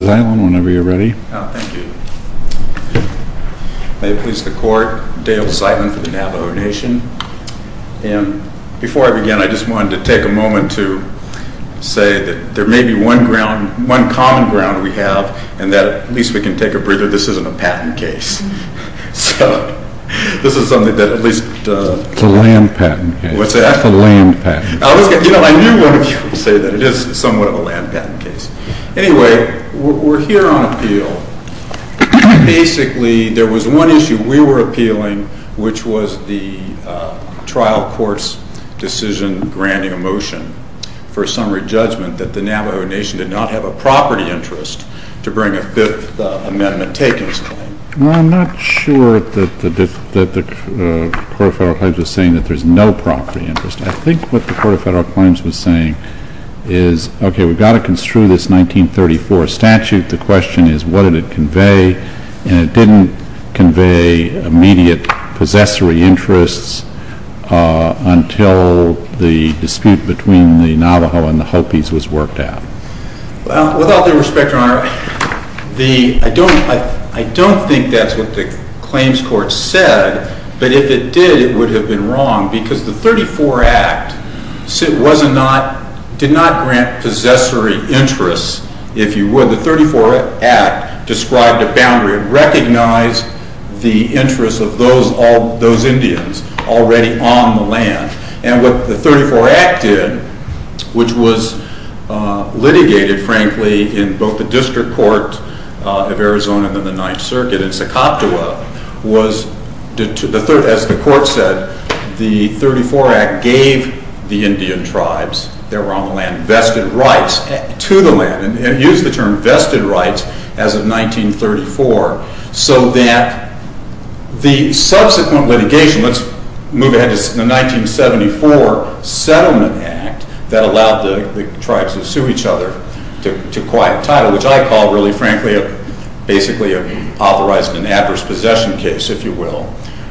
May it please the Court, Dale Seidman for the Navajo Nation, and before I begin I just wanted to take a moment to say that there may be one ground, one common ground we have and that at least we can take a breather, this isn't a patent case, so this is something that at least... It's a land patent case. What's that? It's a land patent case. You know I knew one of you would say that, it is somewhat of a land patent case. Anyway, we're here on appeal, basically there was one issue we were appealing which was the trial court's decision granting a motion for a summary judgment that the Navajo Nation did not have a property interest to bring a Fifth Amendment takings claim. Well I'm not sure that the Court of Federal Claims was saying that there's no property interest. I think what the Court of Federal Claims was saying is okay, we've got to construe this 1934 statute, the question is what did it convey, and it didn't convey immediate possessory interests until the dispute between the Navajo and the Hopis was worked out. Well, with all due respect, Your Honor, I don't think that's what the claims court said, but if it did, it would have been wrong because the 34 Act did not grant possessory interests, if you would. The 34 Act described a boundary, it recognized the interests of those Indians already on the land, and what the 34 Act did, which was litigated, frankly, in both the District Court of Arizona and the Ninth Circuit in Secoptowa, as the Court said, the 34 Act gave the Indian tribes that were on the land vested rights to the land, and used the term vested rights as of 1934, so that the subsequent litigation, let's move ahead to the 1974 Settlement Act that allowed the tribes to sue each other to quiet title, which I call, really frankly, basically authorizing an adverse possession case, if you will,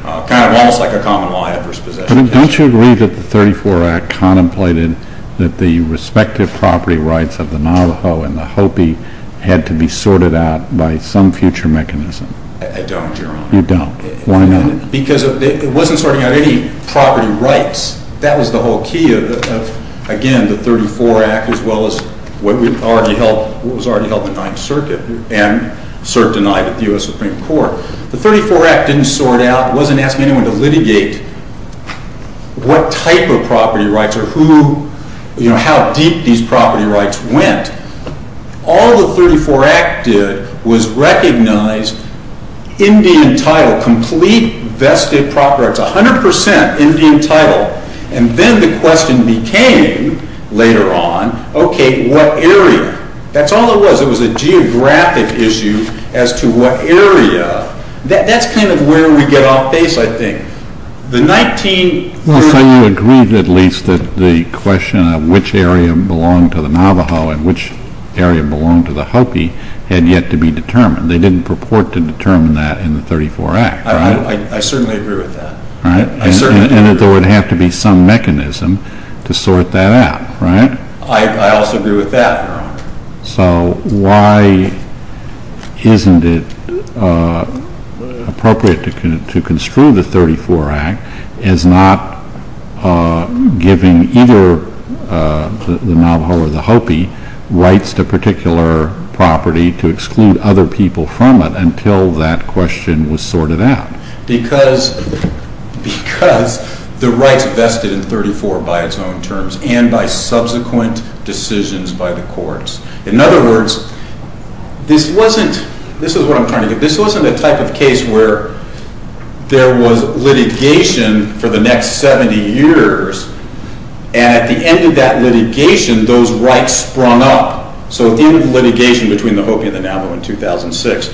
kind of almost like a common law adverse possession case. Don't you agree that the 34 Act contemplated that the respective property rights of the Navajo and the Hopi had to be sorted out by some future mechanism? I don't, Your Honor. You don't. Why not? Because it wasn't sorting out any property rights. That was the whole key of, again, the 34 Act, as well as what was already held in the Ninth Circuit and denied at the U.S. Supreme Court. The 34 Act didn't sort out, it wasn't asking anyone to litigate what type of property rights or who, you know, how deep these property rights went. All the 34 Act did was recognize Indian title, complete vested property rights, 100% Indian title, and then the question became, later on, okay, what area? That's all it was. It was a geographic issue as to what area. That's kind of where we get off base, I think. The 1930... So you agreed, at least, that the question of which area belonged to the Navajo and which area belonged to the Hopi had yet to be determined. They didn't purport to determine that in the 34 Act, right? I certainly agree with that. Right? I certainly do. And that there would have to be some mechanism to sort that out, right? I also agree with that, Your Honor. So why isn't it appropriate to construe the 34 Act as not giving either the Navajo or the Hopi rights to a particular property to exclude other people from it until that question was sorted out? Because the rights vested in 34 by its own terms and by subsequent decisions by the courts. In other words, this wasn't... This is what I'm trying to get. This wasn't a type of case where there was litigation for the next 70 years, and at the end of that litigation, those rights sprung up. So at the end of litigation between the Hopi and the Navajo in 2006,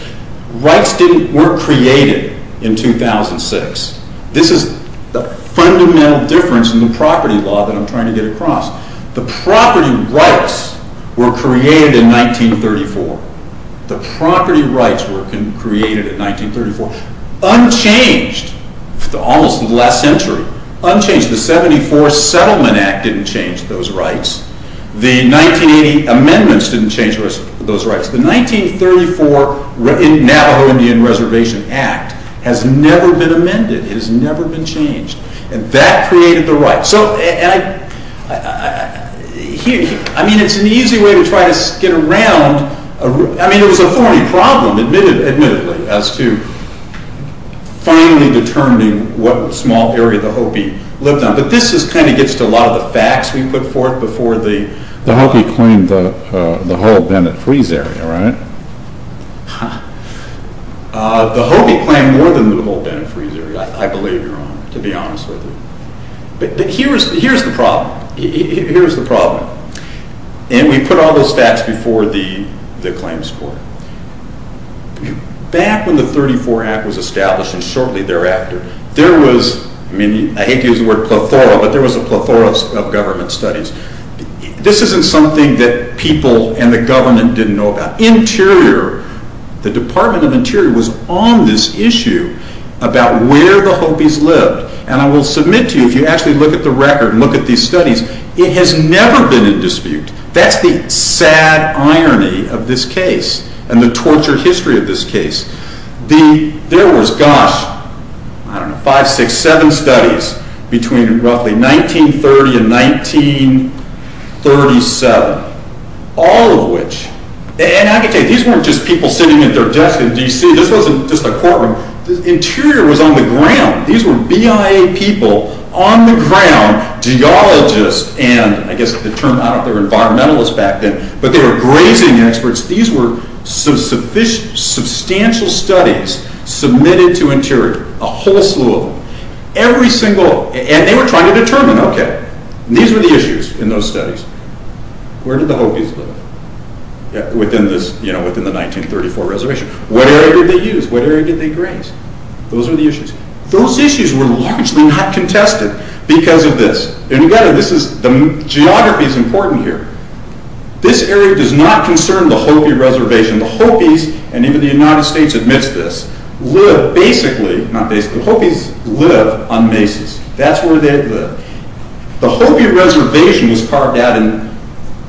rights weren't created in 2006. This is the fundamental difference in the property law that I'm trying to get across. The property rights were created in 1934. The property rights were created in 1934, unchanged almost in the last century, unchanged. The 74 Settlement Act didn't change those rights. The 1980 amendments didn't change those rights. The 1934 Navajo Indian Reservation Act has never been amended. It has never been changed. And that created the rights. So I mean, it's an easy way to try to get around... I mean, it was a thorny problem, admittedly, as to finally determining what small area the Hopi lived on, but this kind of gets to a lot of the facts we put forth before the... The Hopi claimed the whole Bennett-Freeze area, right? The Hopi claimed more than the whole Bennett-Freeze area, I believe, Your Honor, to be honest with you. But here's the problem, here's the problem, and we put all those facts before the claims court. Back when the 1934 Act was established, and shortly thereafter, there was, I mean, I hate to use the word plethora, but there was a plethora of government studies. This isn't something that people and the government didn't know about. Interior, the Department of Interior was on this issue about where the Hopis lived. And I will submit to you, if you actually look at the record and look at these studies, it has never been in dispute. That's the sad irony of this case and the torture history of this case. There was, gosh, I don't know, five, six, seven studies between roughly 1930 and 1937, all of which... And I can tell you, these weren't just people sitting at their desk in D.C., this wasn't just a courtroom, the interior was on the ground. These were BIA people on the ground, geologists, and I guess the term, I don't know if they were environmentalists back then, but they were grazing experts. These were substantial studies submitted to Interior, a whole slew of them. Every single... And they were trying to determine, okay, these were the issues in those studies. Where did the Hopis live within the 1934 reservation? What area did they use? What area did they graze? Those were the issues. Those issues were largely not contested because of this. And again, the geography is important here. This area does not concern the Hopi Reservation. The Hopis, and even the United States admits this, live basically, not basically, the Hopis live on mesas. That's where they live. The Hopi Reservation was carved out and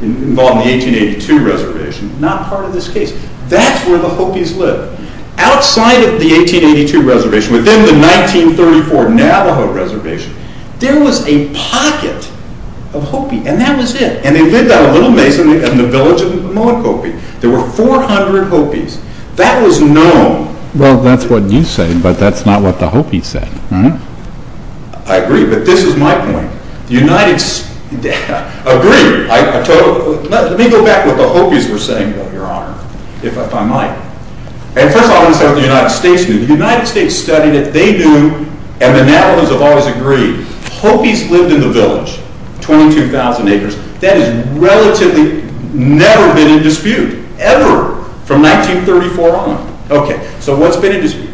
involved in the 1882 reservation, not part of this case. That's where the Hopis live. Outside of the 1882 reservation, within the 1934 Navajo Reservation, there was a pocket of Hopi, and that was it. And they lived on a little mesa in the village of Mowakopi. There were 400 Hopis. That was known. Well, that's what you say, but that's not what the Hopis said. I agree. But this is my point. The United... Agree. Let me go back to what the Hopis were saying, your honor, if I might. First of all, I want to say what the United States knew. The United States studied it. They knew, and the Navajos have always agreed, Hopis lived in the village, 22,000 acres. That has relatively never been in dispute, ever, from 1934 on. Okay, so what's been in dispute?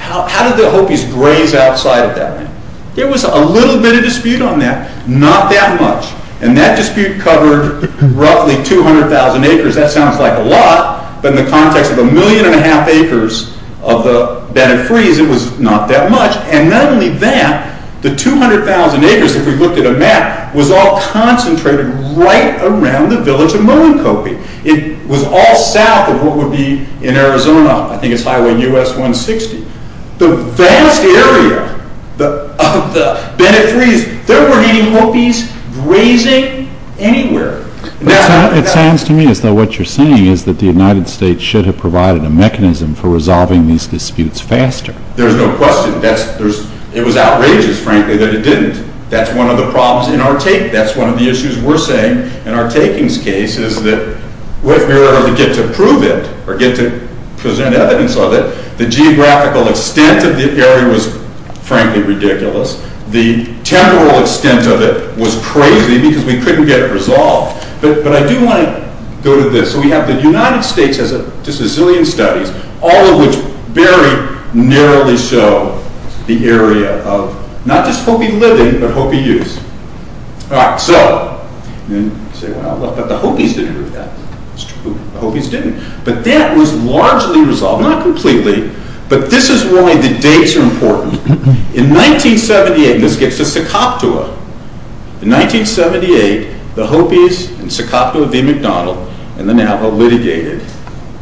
How did the Hopis graze outside of that? There was a little bit of dispute on that, not that much. And that dispute covered roughly 200,000 acres. That sounds like a lot, but in the context of a million and a half acres of the Bennett Freeze, it was not that much. And not only that, the 200,000 acres, if we looked at a map, was all concentrated right around the village of Mowakopi. It was all south of what would be in Arizona, I think it's Highway US-160. The vast area of the Bennett Freeze, there weren't any Hopis grazing anywhere. It sounds to me as though what you're saying is that the United States should have provided a mechanism for resolving these disputes faster. There's no question. It was outrageous, frankly, that it didn't. That's one of the problems in our take. That's one of the issues we're saying in our takings case is that if we were to get to prove it, or get to present evidence of it, the geographical extent of the area was, frankly, ridiculous. The temporal extent of it was crazy because we couldn't get it resolved. But I do want to go to this. So we have the United States has just a zillion studies, all of which very narrowly show the area of not just Hopi living, but Hopi use. And you say, well, but the Hopis didn't do that. It's true, the Hopis didn't. But that was largely resolved, not completely, but this is why the dates are important. In 1978, and this gets to Secaptua, in 1978, the Hopis and Secaptua v. McDonald and the Navajo litigated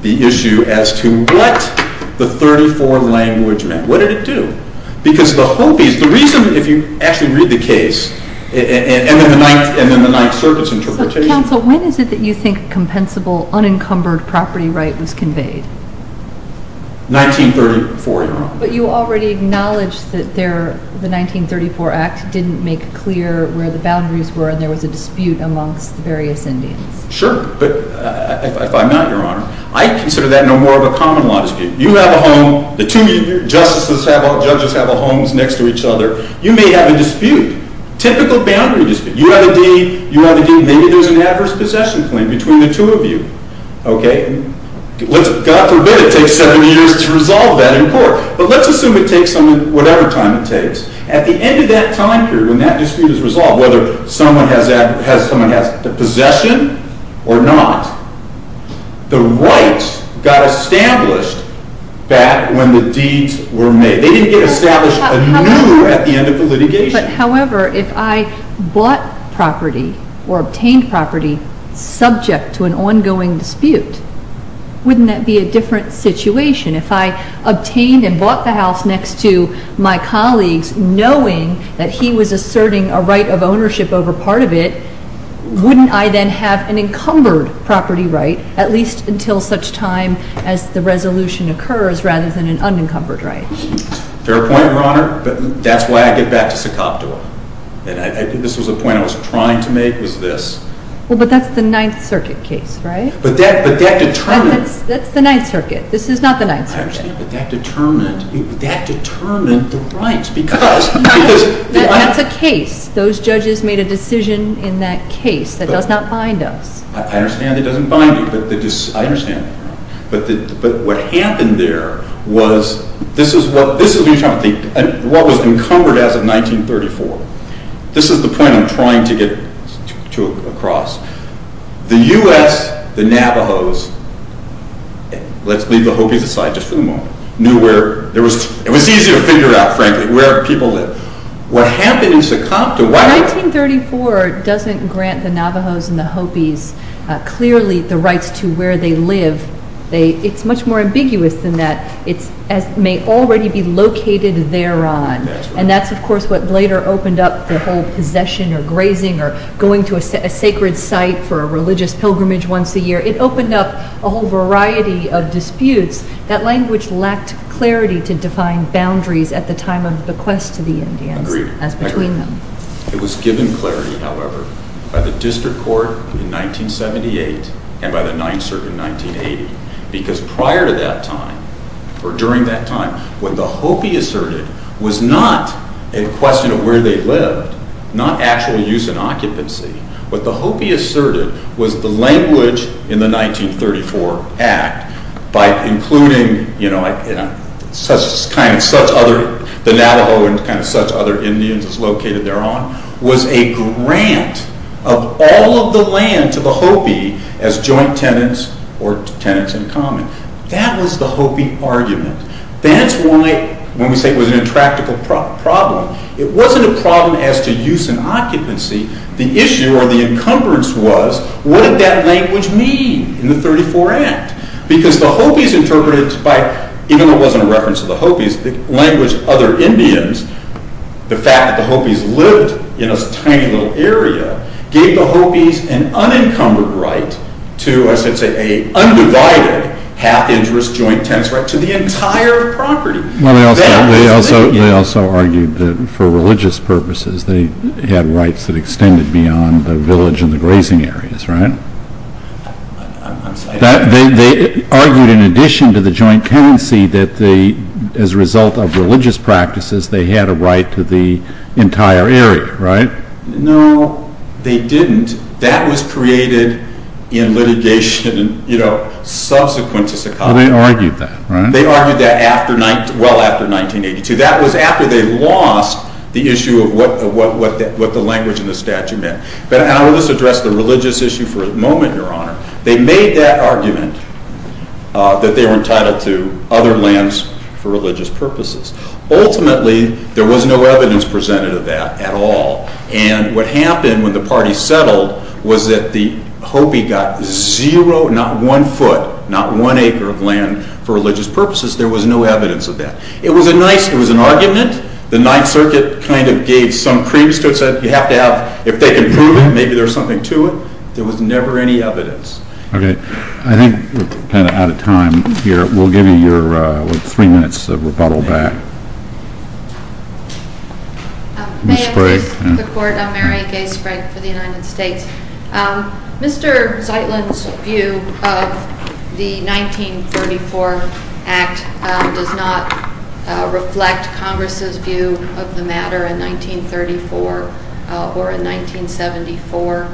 the issue as to what the 34 language meant. What did it do? Because the Hopis, the reason, if you actually read the case, and then the Ninth Circuit's interpretation. So, counsel, when is it that you think a compensable, unencumbered property right was conveyed? 1934, Your Honor. But you already acknowledged that the 1934 act didn't make clear where the boundaries were and there was a dispute amongst the various Indians. Sure, but if I'm not, Your Honor, I consider that no more of a common law dispute. You have a home, the two of you, justices have all, judges have all homes next to each other. You may have a dispute, typical boundary dispute. You have a deed, you have a deed, maybe there's an adverse possession claim between the two of you. Okay? God forbid it takes seven years to resolve that in court. But let's assume it takes whatever time it takes. At the end of that time period, when that dispute is resolved, whether someone has the possession or not, the rights got established back when the deeds were made. They didn't get established anew at the end of the litigation. But however, if I bought property or obtained property subject to an ongoing dispute, wouldn't that be a different situation? If I obtained and bought the house next to my colleagues knowing that he was asserting a right of ownership over part of it, wouldn't I then have an encumbered property right, at least until such time as the resolution occurs, rather than an unencumbered right? Fair point, Your Honor. That's why I get back to Socoptoa. This was a point I was trying to make, was this. Well, but that's the Ninth Circuit case, right? But that determined... That's the Ninth Circuit. This is not the Ninth Circuit. But that determined the rights because... That's a case. Those judges made a decision in that case. That does not bind us. I understand it doesn't bind you, but I understand. But what happened there was... This is what was encumbered as of 1934. This is the point I'm trying to get to across. The U.S., the Navajos, let's leave the Hopis aside just for the moment, knew where... It was easy to figure out, frankly, where people lived. What happened in Socoptoa... 1934 doesn't grant the Navajos and the Hopis clearly the rights to where they live. It's much more ambiguous than that. It may already be located thereon. And that's, of course, what later opened up the whole possession or grazing or going to a sacred site for a religious pilgrimage once a year. It opened up a whole variety of disputes. That language lacked clarity to define boundaries at the time of the quest to the Indians as between them. I agree. It was given clarity, however, by the District Court in 1978 and by the 9th Circuit in 1980 because prior to that time, or during that time, what the Hopi asserted was not a question of where they lived, not actual use and occupancy. What the Hopi asserted was the language in the 1934 Act by including, you know, the Navajo and kind of such other Indians as located thereon was a grant of all of the land to the Hopi as joint tenants or tenants in common. That was the Hopi argument. That's why, when we say it was an intractable problem, it wasn't a problem as to use and occupancy. The issue or the encumbrance was what did that language mean in the 1934 Act? Because the Hopis interpreted it by, even though it wasn't a reference to the Hopis, the language of other Indians, the fact that the Hopis lived in a tiny little area gave the Hopis an unencumbered right to, I should say, an undivided half-interest joint-tenants right to the entire property. They also argued that for religious purposes they had rights that extended beyond the village and the grazing areas, right? They argued in addition to the joint tenancy that as a result of religious practices they had a right to the entire area, right? No, they didn't. That was created in litigation, you know, subsequent to Sakai. They argued that, right? They argued that well after 1982. That was after they lost the issue of what the language in the statute meant. And I will just address the religious issue for a moment, Your Honor. They made that argument that they were entitled to other lands for religious purposes. Ultimately, there was no evidence presented of that at all. And what happened when the party settled was that the Hopi got zero, not one foot, not one acre of land for religious purposes. There was no evidence of that. It was a nice, it was an argument. The Ninth Circuit kind of gave some creeps to it, said you have to have, if they can prove it, maybe there's something to it. There was never any evidence. Okay. I think we're kind of out of time here. We'll give you your three minutes of rebuttal back. May I speak to the court? I'm Mary Gay Sprague for the United States. Mr. Zeitland's view of the 1934 Act does not reflect Congress's view of the matter in 1934 or in 1974.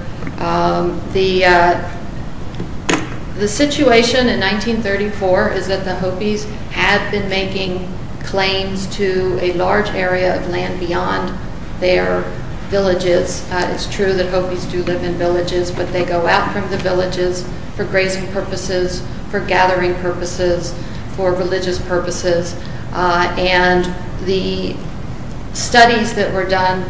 The situation in 1934 is that the Hopis had been making claims to a large area of land beyond their villages. It's true that Hopis do live in villages, but they go out from the villages for grazing purposes, for gathering purposes, for religious purposes. And the studies that were done,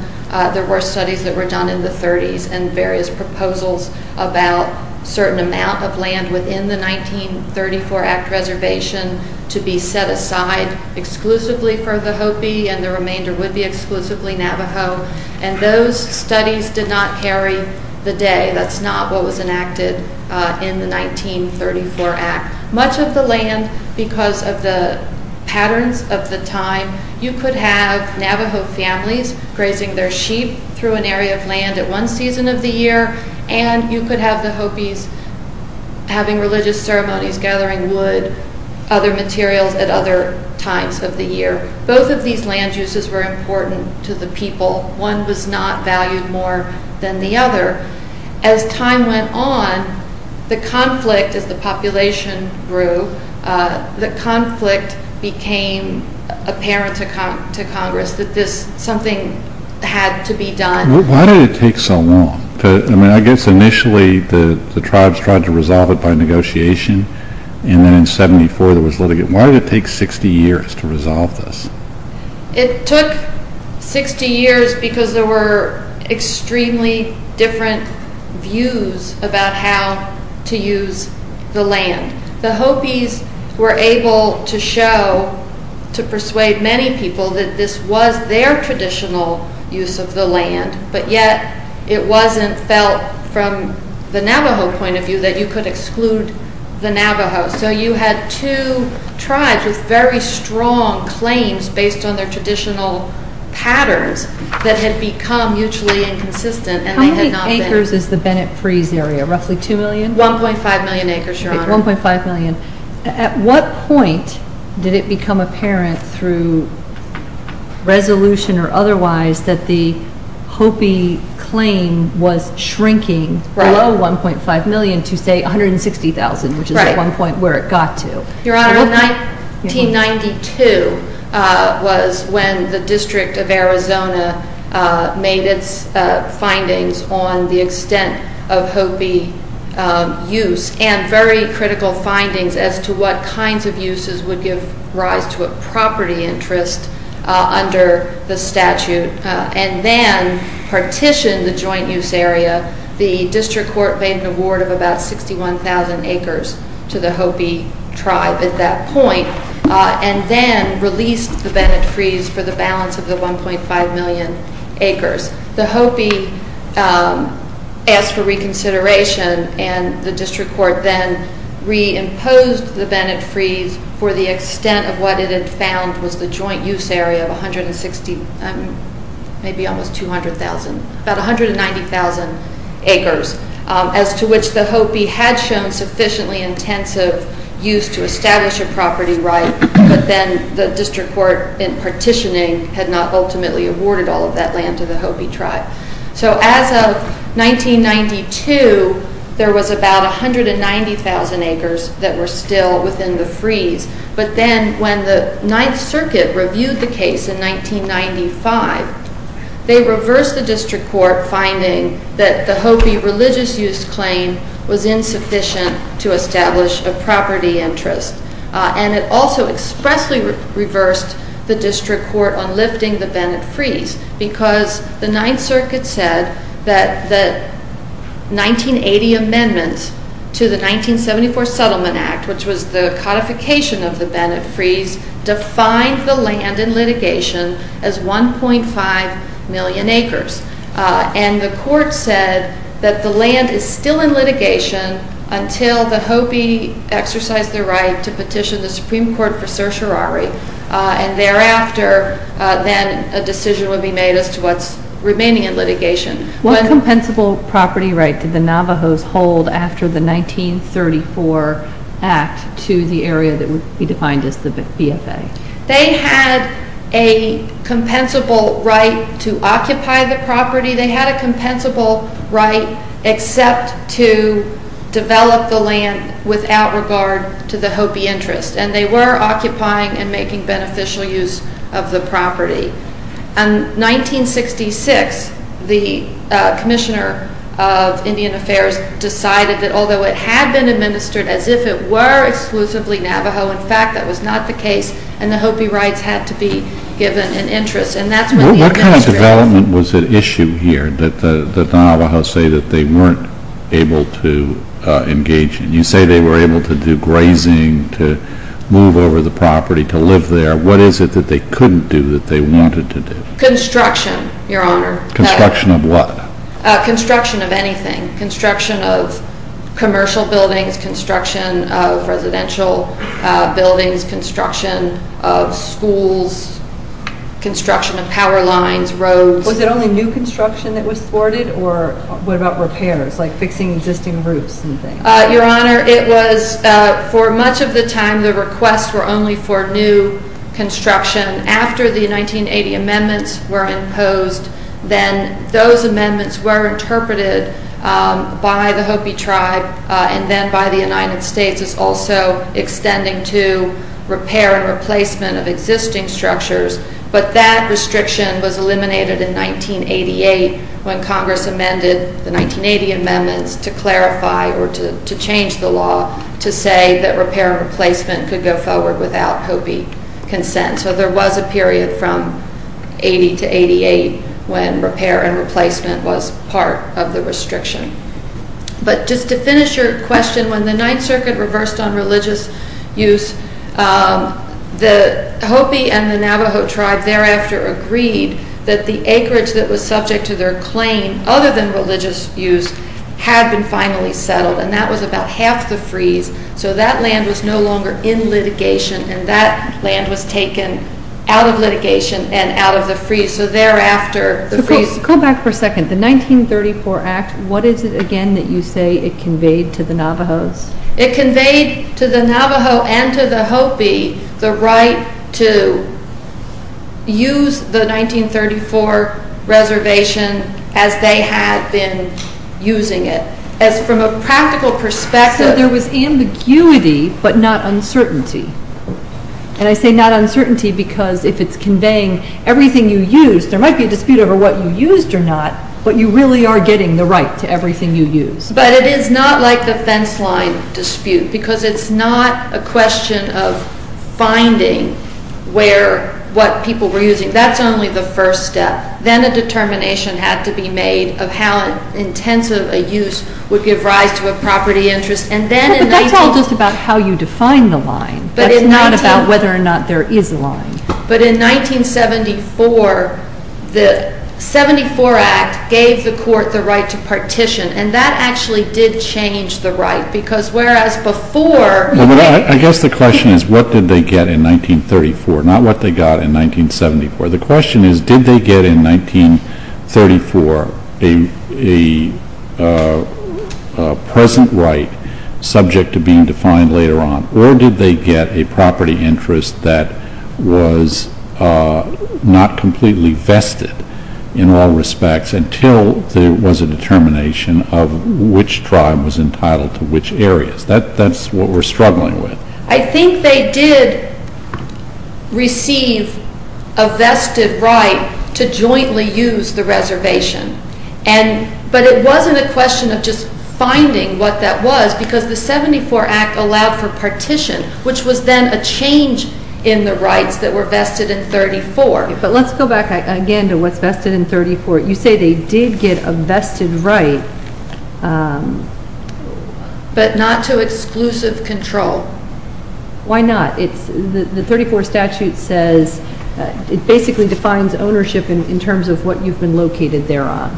there were studies that were done in the 30s, and various proposals about certain amount of land within the 1934 Act reservation to be set aside exclusively for the Hopi, and the remainder would be exclusively Navajo. And those studies did not carry the day. That's not what was enacted in the 1934 Act. Much of the land, because of the patterns of the time, you could have Navajo families grazing their sheep through an area of land at one season of the year, and you could have the Hopis having religious ceremonies, gathering wood, other materials at other times of the year. Both of these land uses were important to the people. One was not valued more than the other. As time went on, the conflict as the population grew, the conflict became apparent to Congress that something had to be done. Why did it take so long? I guess initially the tribes tried to resolve it by negotiation, and then in 1974 there was litigate. Why did it take 60 years to resolve this? It took 60 years because there were extremely different views about how to use the land. The Hopis were able to show, to persuade many people, that this was their traditional use of the land, but yet it wasn't felt from the Navajo point of view that you could exclude the Navajos. So you had two tribes with very strong claims based on their traditional patterns that had become mutually inconsistent. How many acres is the Bennett Freeze area? Roughly 2 million? 1.5 million acres, Your Honor. Okay, 1.5 million. At what point did it become apparent through resolution or otherwise that the Hopi claim was shrinking below 1.5 million to, say, 160,000, which is at one point where it got to? Your Honor, in 1992 was when the District of Arizona made its findings on the extent of Hopi use and very critical findings as to what kinds of uses would give rise to a property interest under the statute and then partitioned the joint use area. The District Court paid an award of about 61,000 acres to the Hopi tribe at that point and then released the Bennett Freeze for the balance of the 1.5 million acres. The Hopi asked for reconsideration and the District Court then reimposed the Bennett Freeze for the extent of what it had found was the joint use area of 160,000, maybe almost 200,000, about 190,000 acres as to which the Hopi had shown sufficiently intensive use to establish a property right, but then the District Court in partitioning had not ultimately awarded all of that land to the Hopi tribe. So as of 1992, there was about 190,000 acres that were still within the freeze, but then when the Ninth Circuit reviewed the case in 1995, they reversed the District Court finding that the Hopi religious use claim was insufficient to establish a property interest and it also expressly reversed the District Court on lifting the Bennett Freeze because the Ninth Circuit said that the 1980 amendments to the 1974 Settlement Act, which was the codification of the Bennett Freeze, defined the land in litigation as 1.5 million acres and the court said that the land is still in litigation until the Hopi exercise their right to petition the Supreme Court for certiorari and thereafter then a decision would be made as to what's remaining in litigation. What compensable property right did the Navajos hold after the 1934 Act to the area that would be defined as the BFA? They had a compensable right to occupy the property. They had a compensable right except to develop the land without regard to the Hopi interest and they were occupying and making beneficial use of the property. In 1966 the Commissioner of Indian Affairs decided that although it had been administered as if it were exclusively Navajo, in fact that was not the case and the Hopi rights had to be given an interest. What kind of development was at issue here that the Navajos say that they weren't able to engage in? You say they were able to do grazing, to move over the property, to live there. What is it that they couldn't do that they wanted to do? Construction, Your Honor. Construction of what? Construction of anything. Construction of commercial buildings, construction of residential buildings, construction of schools, construction of power lines, roads. Was it only new construction that was thwarted or what about repairs like fixing existing roofs and things? Your Honor, it was for much of the time the requests were only for new construction. After the 1980 amendments were imposed then those amendments were interpreted by the Hopi tribe and then by the United States as also extending to repair and replacement of existing structures but that restriction was eliminated in 1988 when Congress amended the 1980 amendments to clarify or to change the law to say that repair and replacement could go forward without Hopi consent. So there was a period from 1980 to 1988 when repair and replacement was part of the restriction. But just to finish your question, when the Ninth Circuit reversed on religious use the Hopi and the Navajo tribe thereafter agreed that the acreage that was subject to their claim other than religious use had been finally settled and that was about half the freeze so that land was no longer in litigation and that land was taken out of litigation and out of the freeze. So thereafter the freeze... Go back for a second. The 1934 Act, what is it again that you say it conveyed to the Navajos? It conveyed to the Navajo and to the Hopi the right to use the 1934 reservation as they had been using it. As from a practical perspective... So there was ambiguity but not uncertainty. And I say not uncertainty because if it's conveying everything you used there might be a dispute over what you used or not but you really are getting the right to everything you used. But it is not like the fence line dispute because it's not a question of finding what people were using. That's only the first step. Then a determination had to be made of how intensive a use would give rise to a property interest. But that's all just about how you define the line. That's not about whether or not there is a line. But in 1974 the 74 Act gave the court the right to partition and that actually did change the right because whereas before... I guess the question is what did they get in 1934, not what they got in 1974. The question is did they get in 1934 a present right subject to being defined later on or did they get a property interest that was not completely vested in all respects until there was a determination of which tribe was entitled to which areas. That's what we're struggling with. I think they did receive a vested right to jointly use the reservation. But it wasn't a question of just finding what that was because the 74 Act allowed for partition which was then a change in the rights that were vested in 1934. But let's go back again to what's vested in 1934. You say they did get a vested right... But not to exclusive control. Why not? The 1934 statute basically defines ownership in terms of what you've been located there on.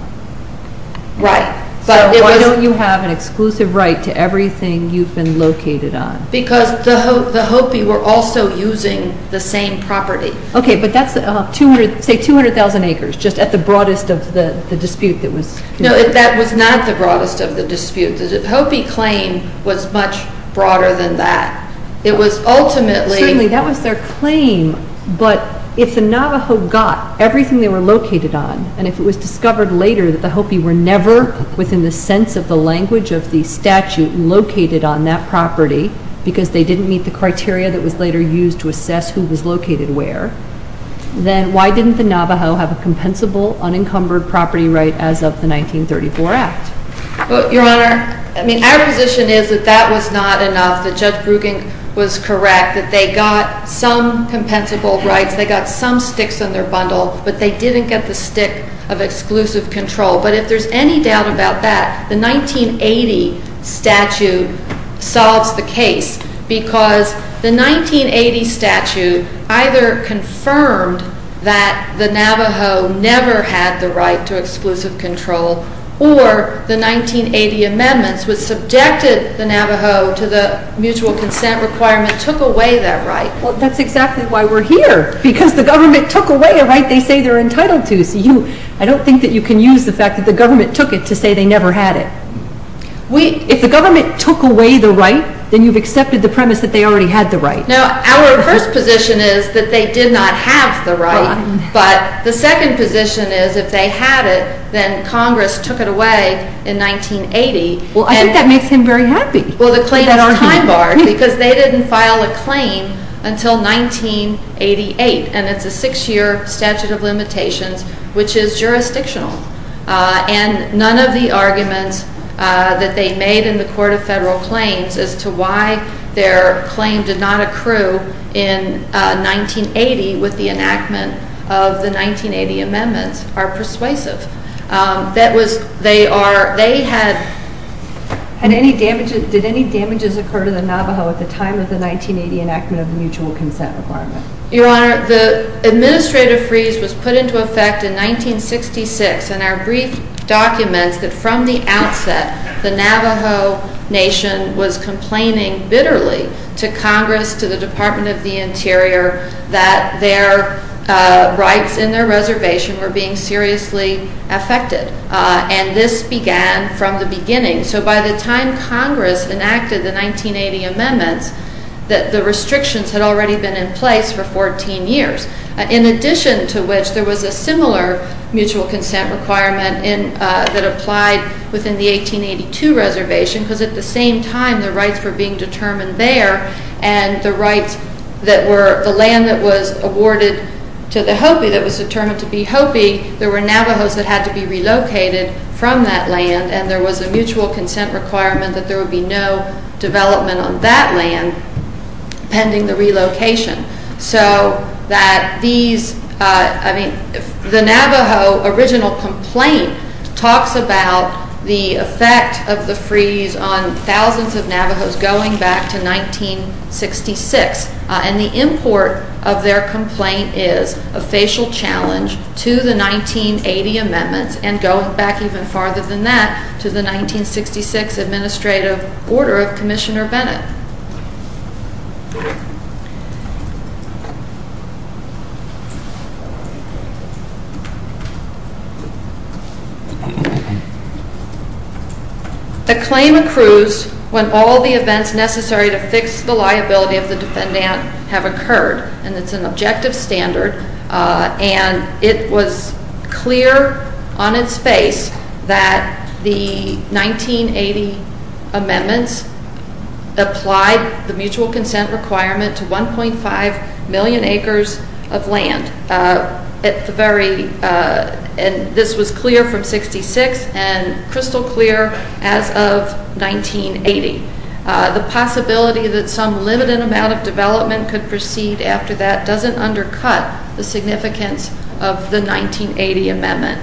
Right. So why don't you have an exclusive right to everything you've been located on? Because the Hopi were also using the same property. Okay, but that's say 200,000 acres just at the broadest of the dispute that was... No, that was not the broadest of the dispute. The Hopi claim was much broader than that. It was ultimately... Certainly, that was their claim. But if the Navajo got everything they were located on and if it was discovered later that the Hopi were never within the sense of the language of the statute located on that property because they didn't meet the criteria that was later used to assess who was located where, then why didn't the Navajo have a compensable, unencumbered property right as of the 1934 Act? Your Honor, our position is that that was not enough, that Judge Brueggen was correct, that they got some compensable rights, they got some sticks in their bundle, but they didn't get the stick of exclusive control. But if there's any doubt about that, the 1980 statute solves the case because the 1980 statute either confirmed that the Navajo never had the right to exclusive control or the 1980 amendments which subjected the Navajo to the mutual consent requirement took away that right. Well, that's exactly why we're here, because the government took away a right they say they're entitled to. I don't think that you can use the fact that the government took it to say they never had it. If the government took away the right, then you've accepted the premise that they already had the right. No, our first position is that they did not have the right, but the second position is if they had it, then Congress took it away in 1980. Well, I think that makes him very happy. Well, the claim is time-barred, because they didn't file a claim until 1988, and it's a six-year statute of limitations, which is jurisdictional. And none of the arguments that they made in the Court of Federal Claims as to why their claim did not accrue in 1980 with the enactment of the 1980 amendments are persuasive. They had... Did any damages occur to the Navajo at the time of the 1980 enactment of the mutual consent requirement? Your Honor, the administrative freeze was put into effect in 1966, and our brief documents that from the outset the Navajo Nation was complaining bitterly to Congress, to the Department of the Interior, that their rights in their reservation were being seriously affected. And this began from the beginning. So by the time Congress enacted the 1980 amendments, the restrictions had already been in place for 14 years, in addition to which there was a similar mutual consent requirement that applied within the 1882 reservation, because at the same time the rights were being determined there, and the rights that were... The land that was awarded to the Hopi that was determined to be Hopi, there were Navajos that had to be relocated from that land, and there was a mutual consent requirement that there would be no development on that land pending the relocation. So that these... I mean, the Navajo original complaint talks about the effect of the freeze on thousands of Navajos going back to 1966, and the import of their complaint is a facial challenge to the 1980 amendments, and going back even farther than that to the 1966 administrative order of Commissioner Bennett. The claim accrues when all the events necessary to fix the liability of the defendant have occurred, and it's an objective standard, and it was clear on its face that the 1980 amendments applied the mutual consent requirement to 1.5 million acres of land. And this was clear from 1966 and crystal clear as of 1980. The possibility that some limited amount of development could proceed after that doesn't undercut the significance of the 1980 amendment.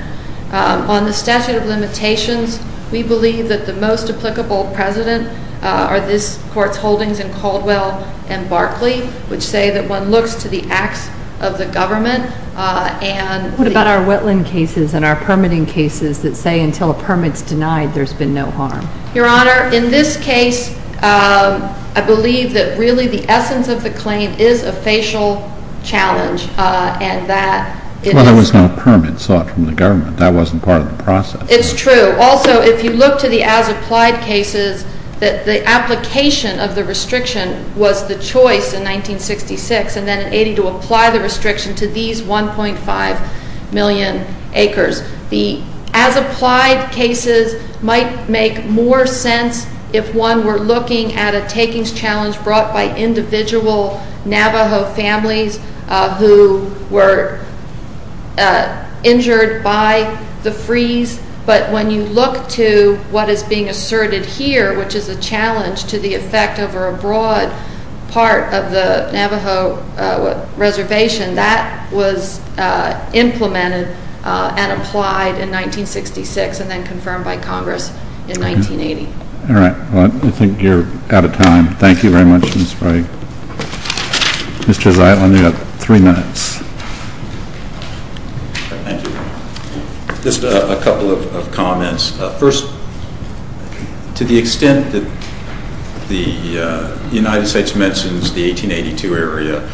On the statute of limitations, we believe that the most applicable precedent are this Court's holdings in Caldwell and Barclay, which say that one looks to the acts of the government and... What about our wetland cases and our permitting cases that say until a permit's denied, there's been no harm? Your Honor, in this case, I believe that really the essence of the claim is a facial challenge, and that... Well, there was no permit sought from the government. That wasn't part of the process. It's true. Also, if you look to the as-applied cases, the application of the restriction was the choice in 1966 and then in 1980 to apply the restriction to these 1.5 million acres. The as-applied cases might make more sense if one were looking at a takings challenge brought by individual Navajo families who were injured by the freeze, but when you look to what is being asserted here, which is a challenge to the effect over a broad part of the Navajo reservation, that was implemented and applied in 1966 and then confirmed by Congress in 1980. All right. Well, I think you're out of time. Thank you very much, Ms. Frey. Mr. Zeitlin, you have three minutes. Thank you. Just a couple of comments. First, to the extent that the United States mentions the 1882 area,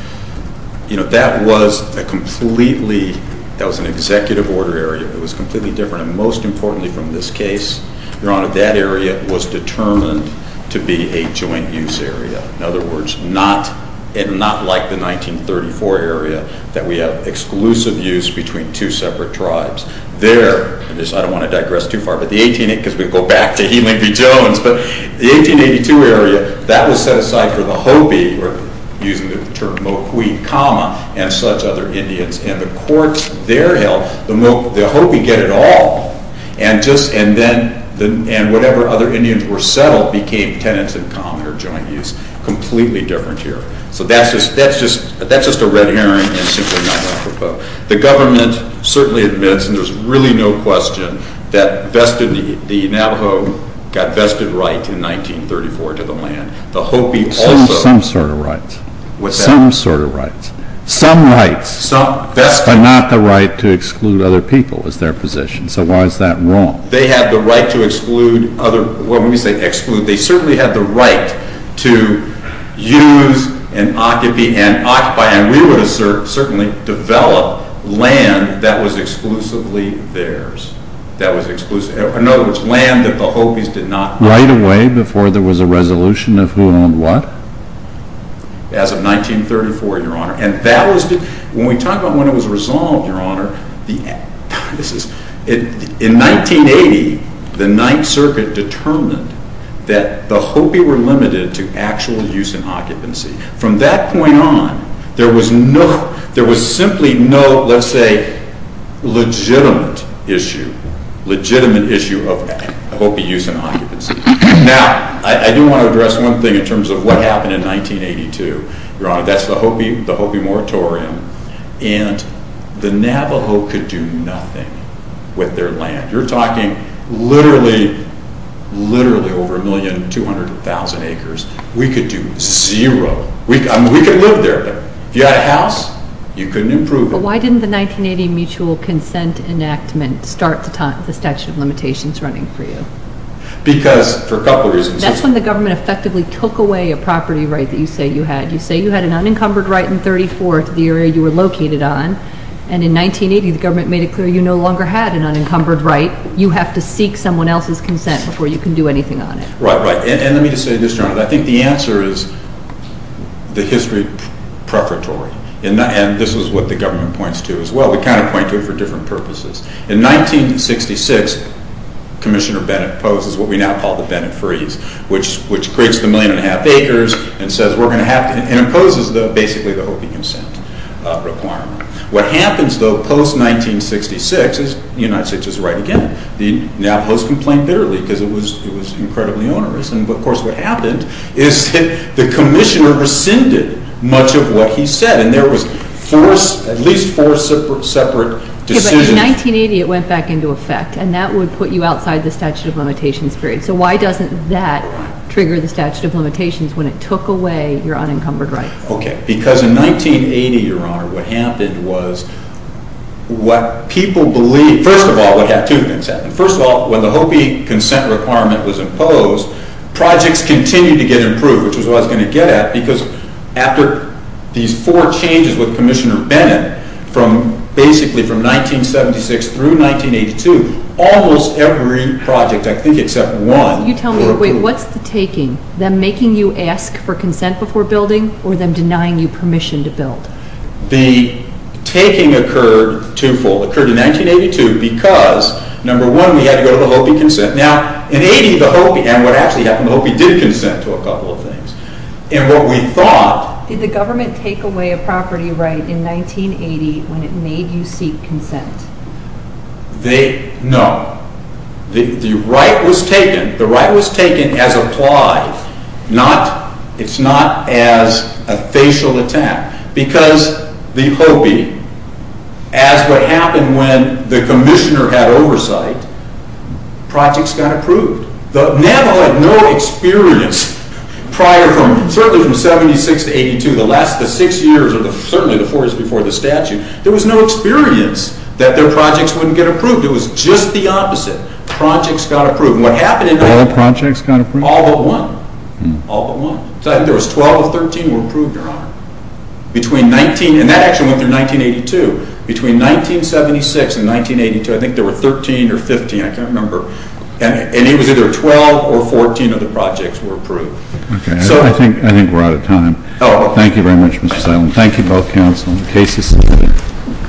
you know, that was a completely... That was an executive order area. It was completely different, and most importantly from this case, Your Honor, that area was determined to be a joint-use area. In other words, not like the 1934 area that we have exclusive use between two separate tribes. There, and I don't want to digress too far, but the 1880, because we go back to Healy Jones, but the 1882 area, that was set aside for the Hopi, or using the term Mokwe, Kama, and such other Indians, and the courts there held the Hopi get it all, and whatever other Indians were settled all became tenants in common or joint-use. Completely different here. So that's just a red herring, and simply not what I propose. The government certainly admits, and there's really no question, that the Navajo got vested rights in 1934 to the land. The Hopi also... Some sort of rights. Some sort of rights. Some rights, but not the right to exclude other people is their position. So why is that wrong? They have the right to exclude other... Well, when we say exclude, they certainly have the right to use, and occupy, and we would have certainly developed land that was exclusively theirs. That was exclusive. In other words, land that the Hopis did not own. Right away, before there was a resolution of who owned what? As of 1934, Your Honor, and that was... When we talk about when it was resolved, Your Honor, this is... In 1980, the Ninth Circuit determined that the Hopi were limited to actual use and occupancy. From that point on, there was simply no, let's say, legitimate issue of Hopi use and occupancy. Now, I do want to address one thing in terms of what happened in 1982. Your Honor, that's the Hopi moratorium, and the Navajo could do nothing with their land. You're talking literally over 1,200,000 acres. We could do zero. I mean, we could live there, but if you had a house, you couldn't improve it. But why didn't the 1980 Mutual Consent Enactment start the statute of limitations running for you? Because, for a couple of reasons. That's when the government effectively took away a property right that you say you had. You say you had an unencumbered right in 34 to the area you were located on. And in 1980, the government made it clear you no longer had an unencumbered right. You have to seek someone else's consent before you can do anything on it. Right, right. And let me just say this, Your Honor. I think the answer is the history preferatory. And this is what the government points to as well. We kind of point to it for different purposes. In 1966, Commissioner Bennett poses what we now call the Bennett Freeze, which creates the 1.5 million acres and says, we're going to have to impose basically the Hopi Consent Requirement. What happens, though, post-1966, and the United States is right again, the Navajos complained bitterly because it was incredibly onerous. And, of course, what happened is that the Commissioner rescinded much of what he said. And there was at least four separate decisions. But in 1980, it went back into effect. And that would put you outside the statute of limitations period. So why doesn't that trigger the statute of limitations when it took away your unencumbered rights? Okay. Because in 1980, Your Honor, what happened was what people believed, first of all, what had two things happen. First of all, when the Hopi Consent Requirement was imposed, projects continued to get improved, which is what I was going to get at, because after these four changes with Commissioner Bennett, from basically from 1976 through 1982, almost every project, I think, except one, were approved. You tell me, wait, what's the taking? Them making you ask for consent before building or them denying you permission to build? The taking occurred twofold. It occurred in 1982 because, number one, we had to go to the Hopi Consent. Now, in 1980, the Hopi, and what actually happened, the Hopi did consent to a couple of things. And what we thought... Did the government take away a property right in 1980 when it made you seek consent? No. The right was taken. The right was taken as applied. It's not as a facial attack. Because the Hopi, as what happened when the Commissioner had oversight, projects got approved. The Nava had no experience prior from, certainly from 1976 to 1982, the last six years, or certainly the four years before the statute, there was no experience that their projects wouldn't get approved. It was just the opposite. Projects got approved. And what happened... All projects got approved? All but one. All but one. I think there was 12 or 13 were approved, Your Honor. Between 19... And that actually went through 1982. Between 1976 and 1982, I think there were 13 or 15, I can't remember. And it was either 12 or 14 of the projects were approved. Okay. I think we're out of time. Thank you very much, Mr. Simon. Thank you, both counsel and the cases.